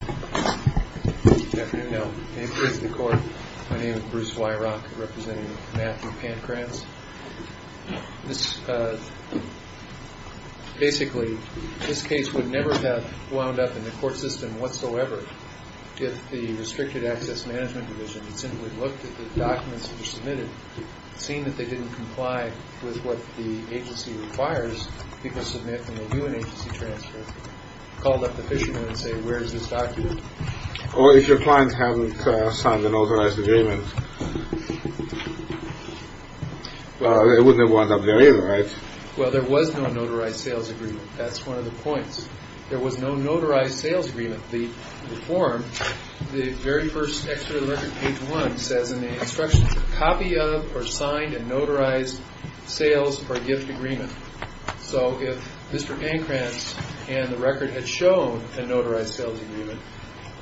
Good afternoon. My name is Bruce Weirock, representing Matthew Pancratz. Basically, this case would never have wound up in the court system whatsoever if the Restricted Access Management Division had simply looked at the documents that were submitted, seen that they didn't comply with what the agency requires people submit when they do an agency transfer, called up the fishermen and said, where is this document? Or if your client hasn't signed a notarized agreement. Well, it wouldn't have wound up there either, right? Well, there was no notarized sales agreement. That's one of the points. There was no notarized sales agreement. The form, the very first extra alert at page one, says in the instruction, copy of or signed and notarized sales or gift agreement. So if Mr. Pancratz and the record had shown a notarized sales agreement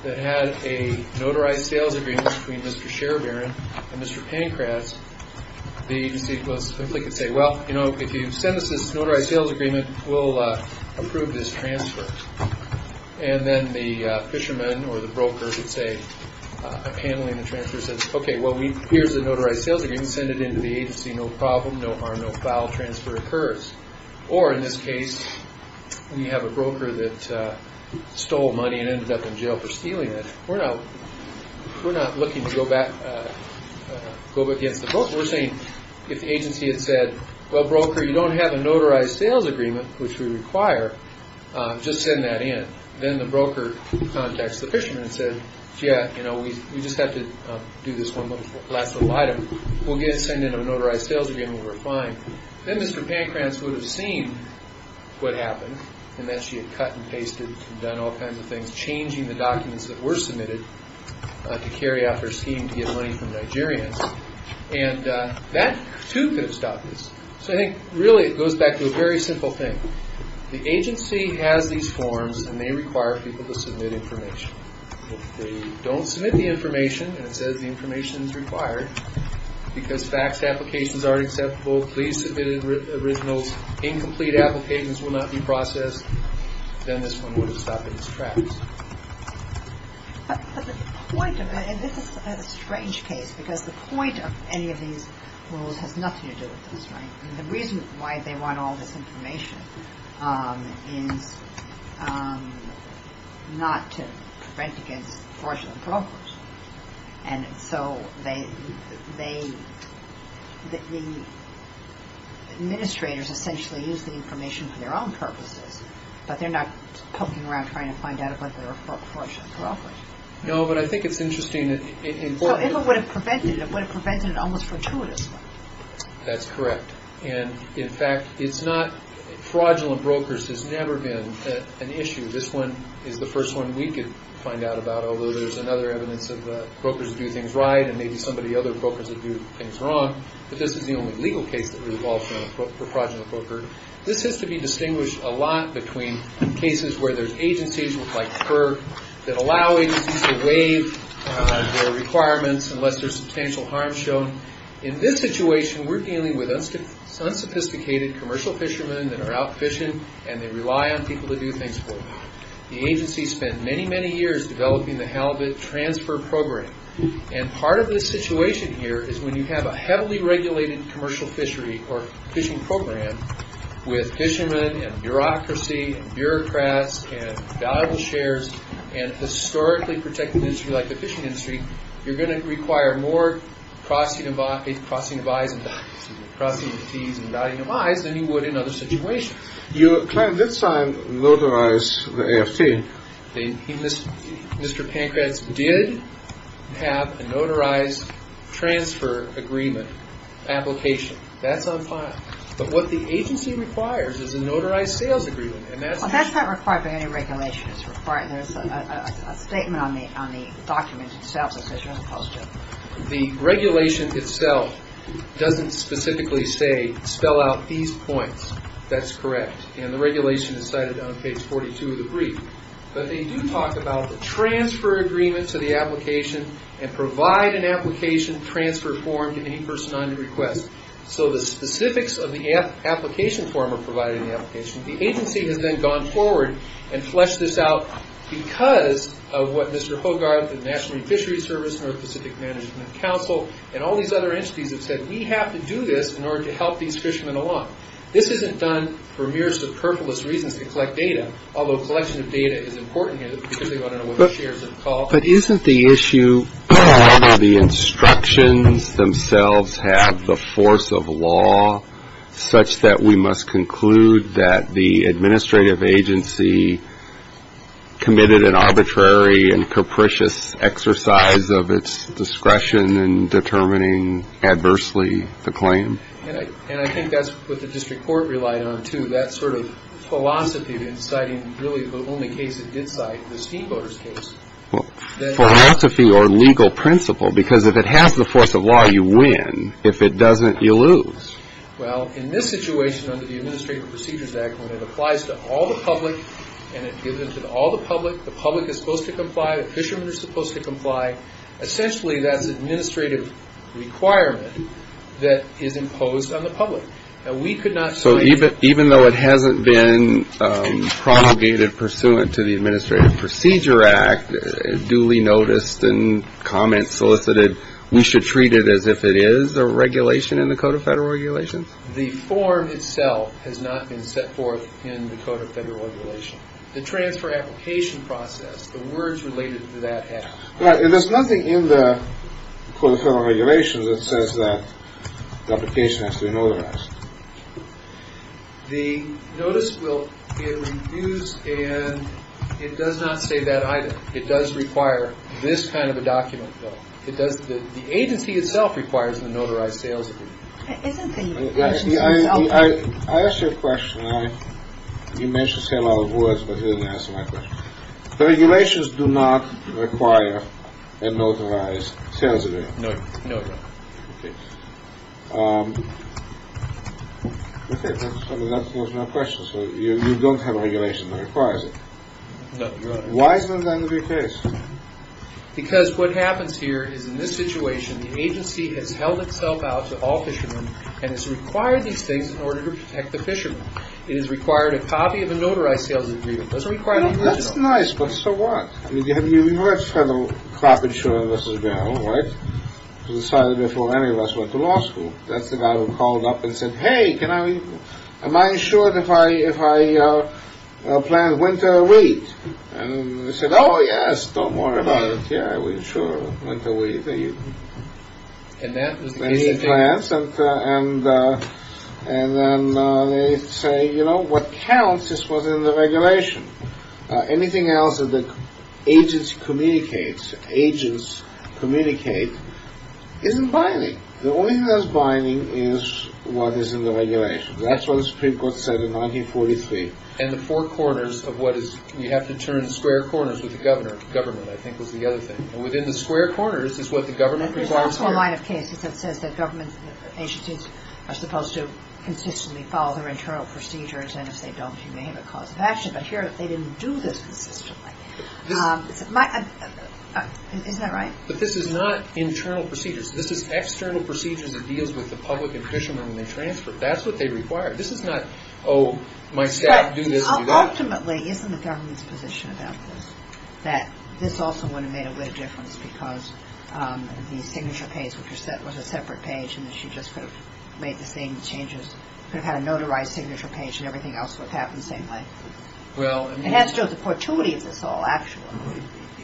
that had a notarized sales agreement between Mr. Sherebarren and Mr. Pancratz, the agency simply could say, well, you know, if you send us this notarized sales agreement, we'll approve this transfer. And then the fisherman or the broker would say, handling the transfer, says, okay, well, here's the notarized sales agreement. No problem, no harm, no foul, transfer occurs. Or in this case, we have a broker that stole money and ended up in jail for stealing it. We're not looking to go back against the broker. We're saying if the agency had said, well, broker, you don't have a notarized sales agreement, which we require, just send that in. Then the broker contacts the fisherman and said, yeah, you know, we just have to do this one last little item. We'll send in a notarized sales agreement, we're fine. Then Mr. Pancratz would have seen what happened, and then she had cut and pasted and done all kinds of things, changing the documents that were submitted to carry out her scheme to get money from Nigeria. And that, too, could have stopped this. So I think, really, it goes back to a very simple thing. The agency has these forms, and they require people to submit information. If they don't submit the information, and it says the information is required, because faxed applications aren't acceptable, please submit original incomplete applications will not be processed, then this one would have stopped its tracks. But the point of it, and this is a strange case, because the point of any of these rules has nothing to do with this, right? The reason why they want all this information is not to prevent against fraudulent brokers. And so the administrators essentially use the information for their own purposes, but they're not poking around trying to find out if they're a fraudulent broker. No, but I think it's interesting. So if it would have prevented it, it would have prevented it almost fortuitously. That's correct. And, in fact, fraudulent brokers has never been an issue. This one is the first one we could find out about, although there's another evidence of brokers who do things right, and maybe some of the other brokers who do things wrong. But this is the only legal case that we've all seen of a fraudulent broker. This has to be distinguished a lot between cases where there's agencies like PERG that allow agencies to waive their requirements unless there's substantial harm shown. In this situation, we're dealing with unsophisticated commercial fishermen that are out fishing, and they rely on people to do things for them. The agency spent many, many years developing the Halibut Transfer Program, and part of the situation here is when you have a heavily regulated commercial fishery or fishing program with fishermen and bureaucracy and bureaucrats and valuable shares and historically protected industry like the fishing industry, you're going to require more crossing of I's and dotting of T's and dotting of I's than you would in other situations. Your client did sign a notarized AFT. Mr. Pankratz did have a notarized transfer agreement application. That's on file. But what the agency requires is a notarized sales agreement. That's not required by any regulation. There's a statement on the document itself that says you're not supposed to. The regulation itself doesn't specifically say spell out these points. That's correct. And the regulation is cited on page 42 of the brief. But they do talk about the transfer agreement to the application and provide an application transfer form to any person on request. So the specifics of the application form are provided in the application. The agency has then gone forward and fleshed this out because of what Mr. Hogarth and the National Fishery Service, North Pacific Management Council, and all these other entities have said we have to do this in order to help these fishermen along. This isn't done for mere superfluous reasons to collect data, although collection of data is important here because they want to know what the shares are called. But isn't the issue that the instructions themselves have the force of law such that we must conclude that the administrative agency committed an arbitrary and capricious exercise of its discretion in determining adversely the claim? And I think that's what the district court relied on, too, that sort of philosophy in citing really the only case it did cite, the steamboaters case. Well, philosophy or legal principle, because if it has the force of law, you win. If it doesn't, you lose. Well, in this situation under the Administrative Procedures Act, when it applies to all the public and it gives it to all the public, the public is supposed to comply, the fishermen are supposed to comply, essentially that's an administrative requirement that is imposed on the public. And we could not sign it. So even though it hasn't been promulgated pursuant to the Administrative Procedure Act, duly noticed and comments solicited, we should treat it as if it is a regulation in the Code of Federal Regulations? The form itself has not been set forth in the Code of Federal Regulations. The transfer application process, the words related to that have. There's nothing in the Code of Federal Regulations that says that the application has to be notarized. The notice will be reduced and it does not say that either. It does require this kind of a document, though. It does. The agency itself requires a notarized sales. I ask you a question. You mentioned a lot of words, but you didn't answer my question. The regulations do not require a notarized sales. No, no. That's my question. So you don't have a regulation that requires it. Why isn't that going to be the case? Because what happens here is in this situation, the agency has held itself out to all fishermen and has required these things in order to protect the fishermen. It has required a copy of a notarized sales agreement. That's nice, but so what? I mean, you've heard of federal crop insurance, right? It was decided before any of us went to law school. That's the guy who called up and said, hey, can I am I insured if I if I plant winter wheat? And I said, oh, yes. Don't worry about it. Yeah, I will insure winter wheat for you. And that was the plan. And then they say, you know what counts? This was in the regulation. Anything else that the agency communicates, agents communicate isn't binding. The only thing that's binding is what is in the regulation. That's what the Supreme Court said in 1943. And the four corners of what is you have to turn square corners with the governor. Government, I think, was the other thing. And within the square corners is what the government requires. There's also a line of cases that says that government agencies are supposed to consistently follow their internal procedures. And if they don't, you may have a cause of action. But here they didn't do this consistently. Isn't that right? But this is not internal procedures. This is external procedures. It deals with the public and fishermen when they transfer. That's what they require. This is not, oh, my staff do this and do that. Ultimately, isn't the government's position about this that this also would have made a big difference because the signature page, which was a separate page, and she just made the same changes, could have had a notarized signature page and everything else would have happened the same way. It has to do with the fortuity of this all, actually.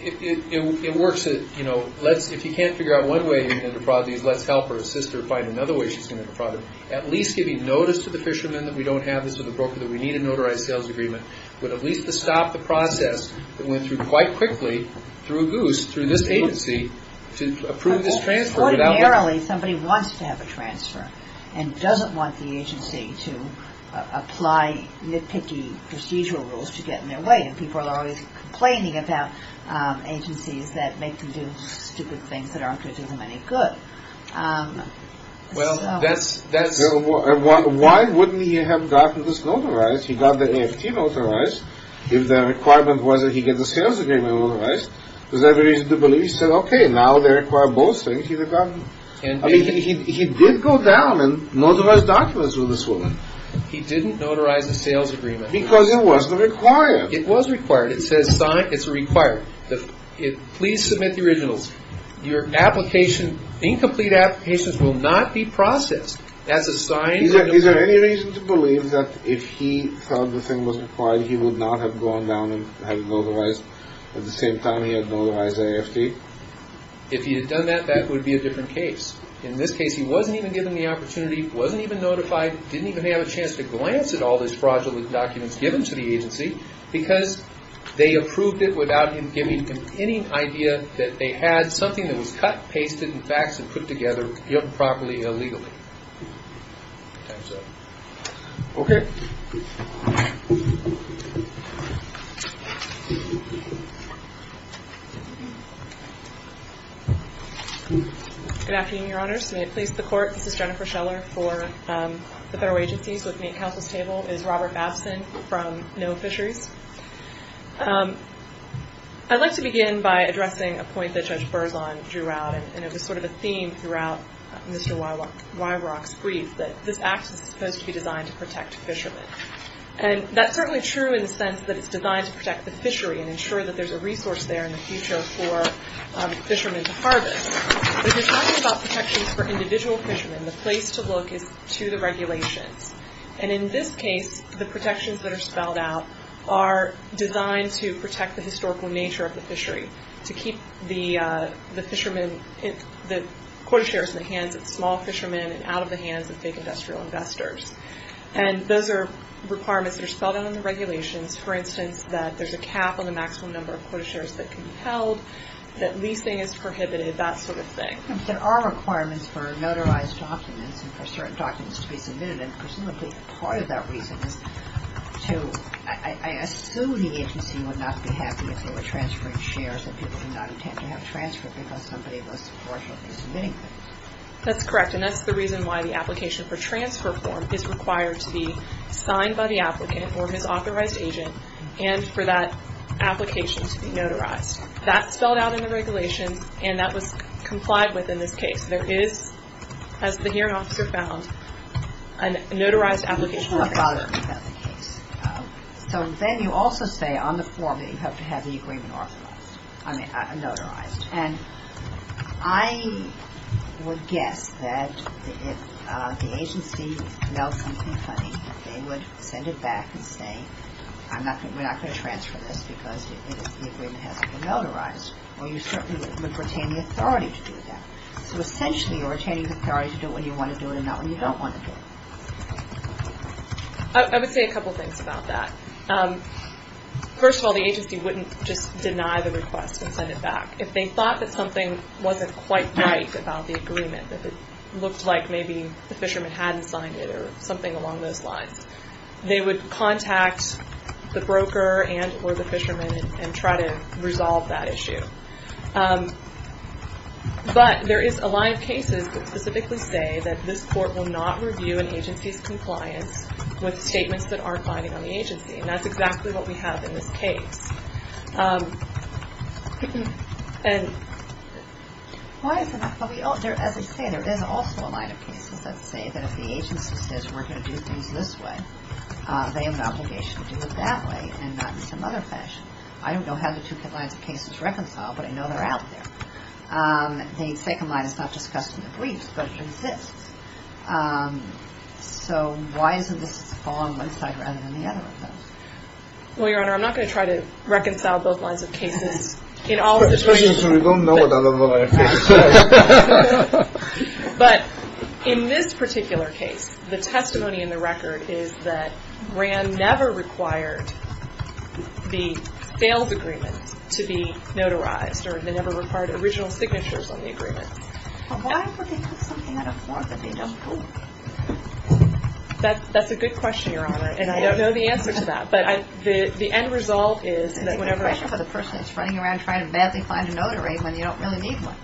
It works. If you can't figure out one way to interprod these, let's help her sister find another way she's going to interprod it. At least giving notice to the fishermen that we don't have this, to the broker, that we need a notarized sales agreement, but at least to stop the process that went through quite quickly through Goose, through this agency, to approve this transfer. Ordinarily, somebody wants to have a transfer and doesn't want the agency to apply nitpicky procedural rules to get in their way. People are always complaining about agencies that make them do stupid things that aren't going to do them any good. Well, that's... Why wouldn't he have gotten this notarized? He got the AFT notarized. If the requirement was that he get the sales agreement notarized, is there a reason to believe he said, okay, now they require both things, he would have gotten... I mean, he did go down and notarize documents with this woman. He didn't notarize the sales agreement. Because it wasn't required. It was required. It says it's required. Please submit the originals. Your application, incomplete applications, will not be processed. That's a sign... Is there any reason to believe that if he thought the thing was required, he would not have gone down and notarized at the same time he had notarized AFT? If he had done that, that would be a different case. In this case, he wasn't even given the opportunity, wasn't even notified, didn't even have a chance to glance at all these fraudulent documents given to the agency because they approved it without him giving them any idea that they had something that was cut, pasted, and faxed, and put together illegally. Good afternoon, Your Honors. May it please the Court, this is Jennifer Scheller for the Federal Agencies. With me at counsel's table is Robert Babson from NOAA Fisheries. I'd like to begin by addressing a point that Judge Berzon drew out, and it was sort of a theme throughout Mr. Weirach's brief, that this Act is supposed to be designed to protect fishermen. And that's certainly true in the sense that it's designed to protect the fishery and ensure that there's a resource there in the future for fishermen to harvest. When you're talking about protections for individual fishermen, the place to look is to the regulations. And in this case, the protections that are spelled out are designed to protect the historical nature of the fishery, to keep the quota shares in the hands of small fishermen and out of the hands of big industrial investors. And those are requirements that are spelled out in the regulations. For instance, that there's a cap on the maximum number of quota shares that can be held, that leasing is prohibited, that sort of thing. But there are requirements for notarized documents and for certain documents to be submitted, and presumably part of that reason is to, I assume the agency would not be happy if they were transferring shares and people did not intend to have transfer because somebody was unfortunately submitting them. That's correct, and that's the reason why the application for transfer form is required to be signed by the applicant or his authorized agent and for that application to be notarized. That's spelled out in the regulations, and that was complied with in this case. There is, as the hearing officer found, a notarized application. So then you also say on the form that you have to have the agreement authorized, I mean, notarized. And I would guess that if the agency knows something funny, they would send it back and say, we're not going to transfer this because the agreement hasn't been notarized. Well, you certainly would retain the authority to do that. So essentially you're retaining the authority to do it when you want to do it and not when you don't want to do it. I would say a couple things about that. First of all, the agency wouldn't just deny the request and send it back. If they thought that something wasn't quite right about the agreement, that it looked like maybe the fisherman hadn't signed it or something along those lines, they would contact the broker and or the fisherman and try to resolve that issue. But there is a line of cases that specifically say that this court will not review an agency's compliance with statements that aren't binding on the agency, and that's exactly what we have in this case. As I say, there is also a line of cases that say that if the agency says we're going to do things this way, they have an obligation to do it that way and not in some other fashion. I don't know how the two lines of cases reconcile, but I know they're out there. The second line is not discussed in the briefs, but it exists. So why is it this is falling on one side rather than the other of those? Well, Your Honor, I'm not going to try to reconcile both lines of cases. But in this particular case, the testimony in the record is that RAND never required the failed agreement to be notarized or they never required original signatures on the agreement. But why would they put something in a form that they don't know? That's a good question, Your Honor, and I don't know the answer to that. But the end result is that whenever... It's a good question for the person that's running around trying to badly find a notary when you don't really need one.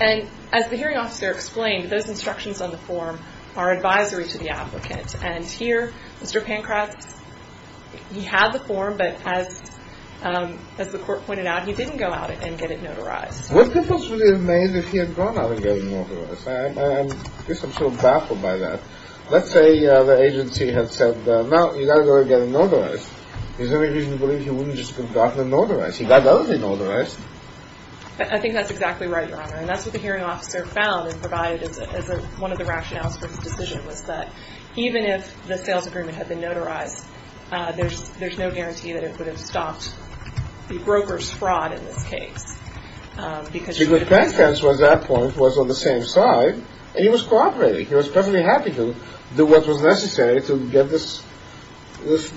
And as the hearing officer explained, those instructions on the form are advisory to the applicant. And here, Mr. Pankratz, he had the form, but as the court pointed out, he didn't go out and get it notarized. Would the person really have made it if he had gone out and gotten it notarized? I guess I'm sort of baffled by that. Let's say the agency had said, no, you've got to go out and get it notarized. Is there any reason to believe he wouldn't just go out and get it notarized? He got it already notarized. I think that's exactly right, Your Honor. And that's what the hearing officer found and provided as one of the rationales for his decision was that even if the sales agreement had been notarized, there's no guarantee that it would have stopped the broker's fraud in this case. See, but Pankratz, at that point, was on the same side, and he was cooperating. He was perfectly happy to do what was necessary to get this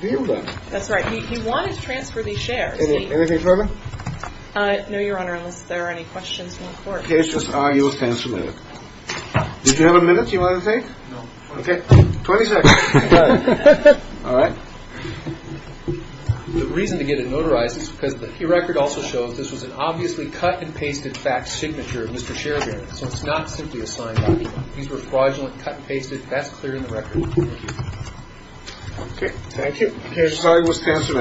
deal done. That's right. He wanted to transfer these shares. Anything further? No, Your Honor, unless there are any questions from the court. Okay. It's just an argument to answer a minute. Did you have a minute you wanted to take? No. Okay. 20 seconds. All right. The reason to get it notarized is because the key record also shows this was an obviously cut-and-pasted fax signature of Mr. Sheridan, so it's not simply a signed document. These were fraudulent, cut-and-pasted. That's clear in the record. Thank you. Okay. Thank you. I'm sorry. It was to answer a minute. All right.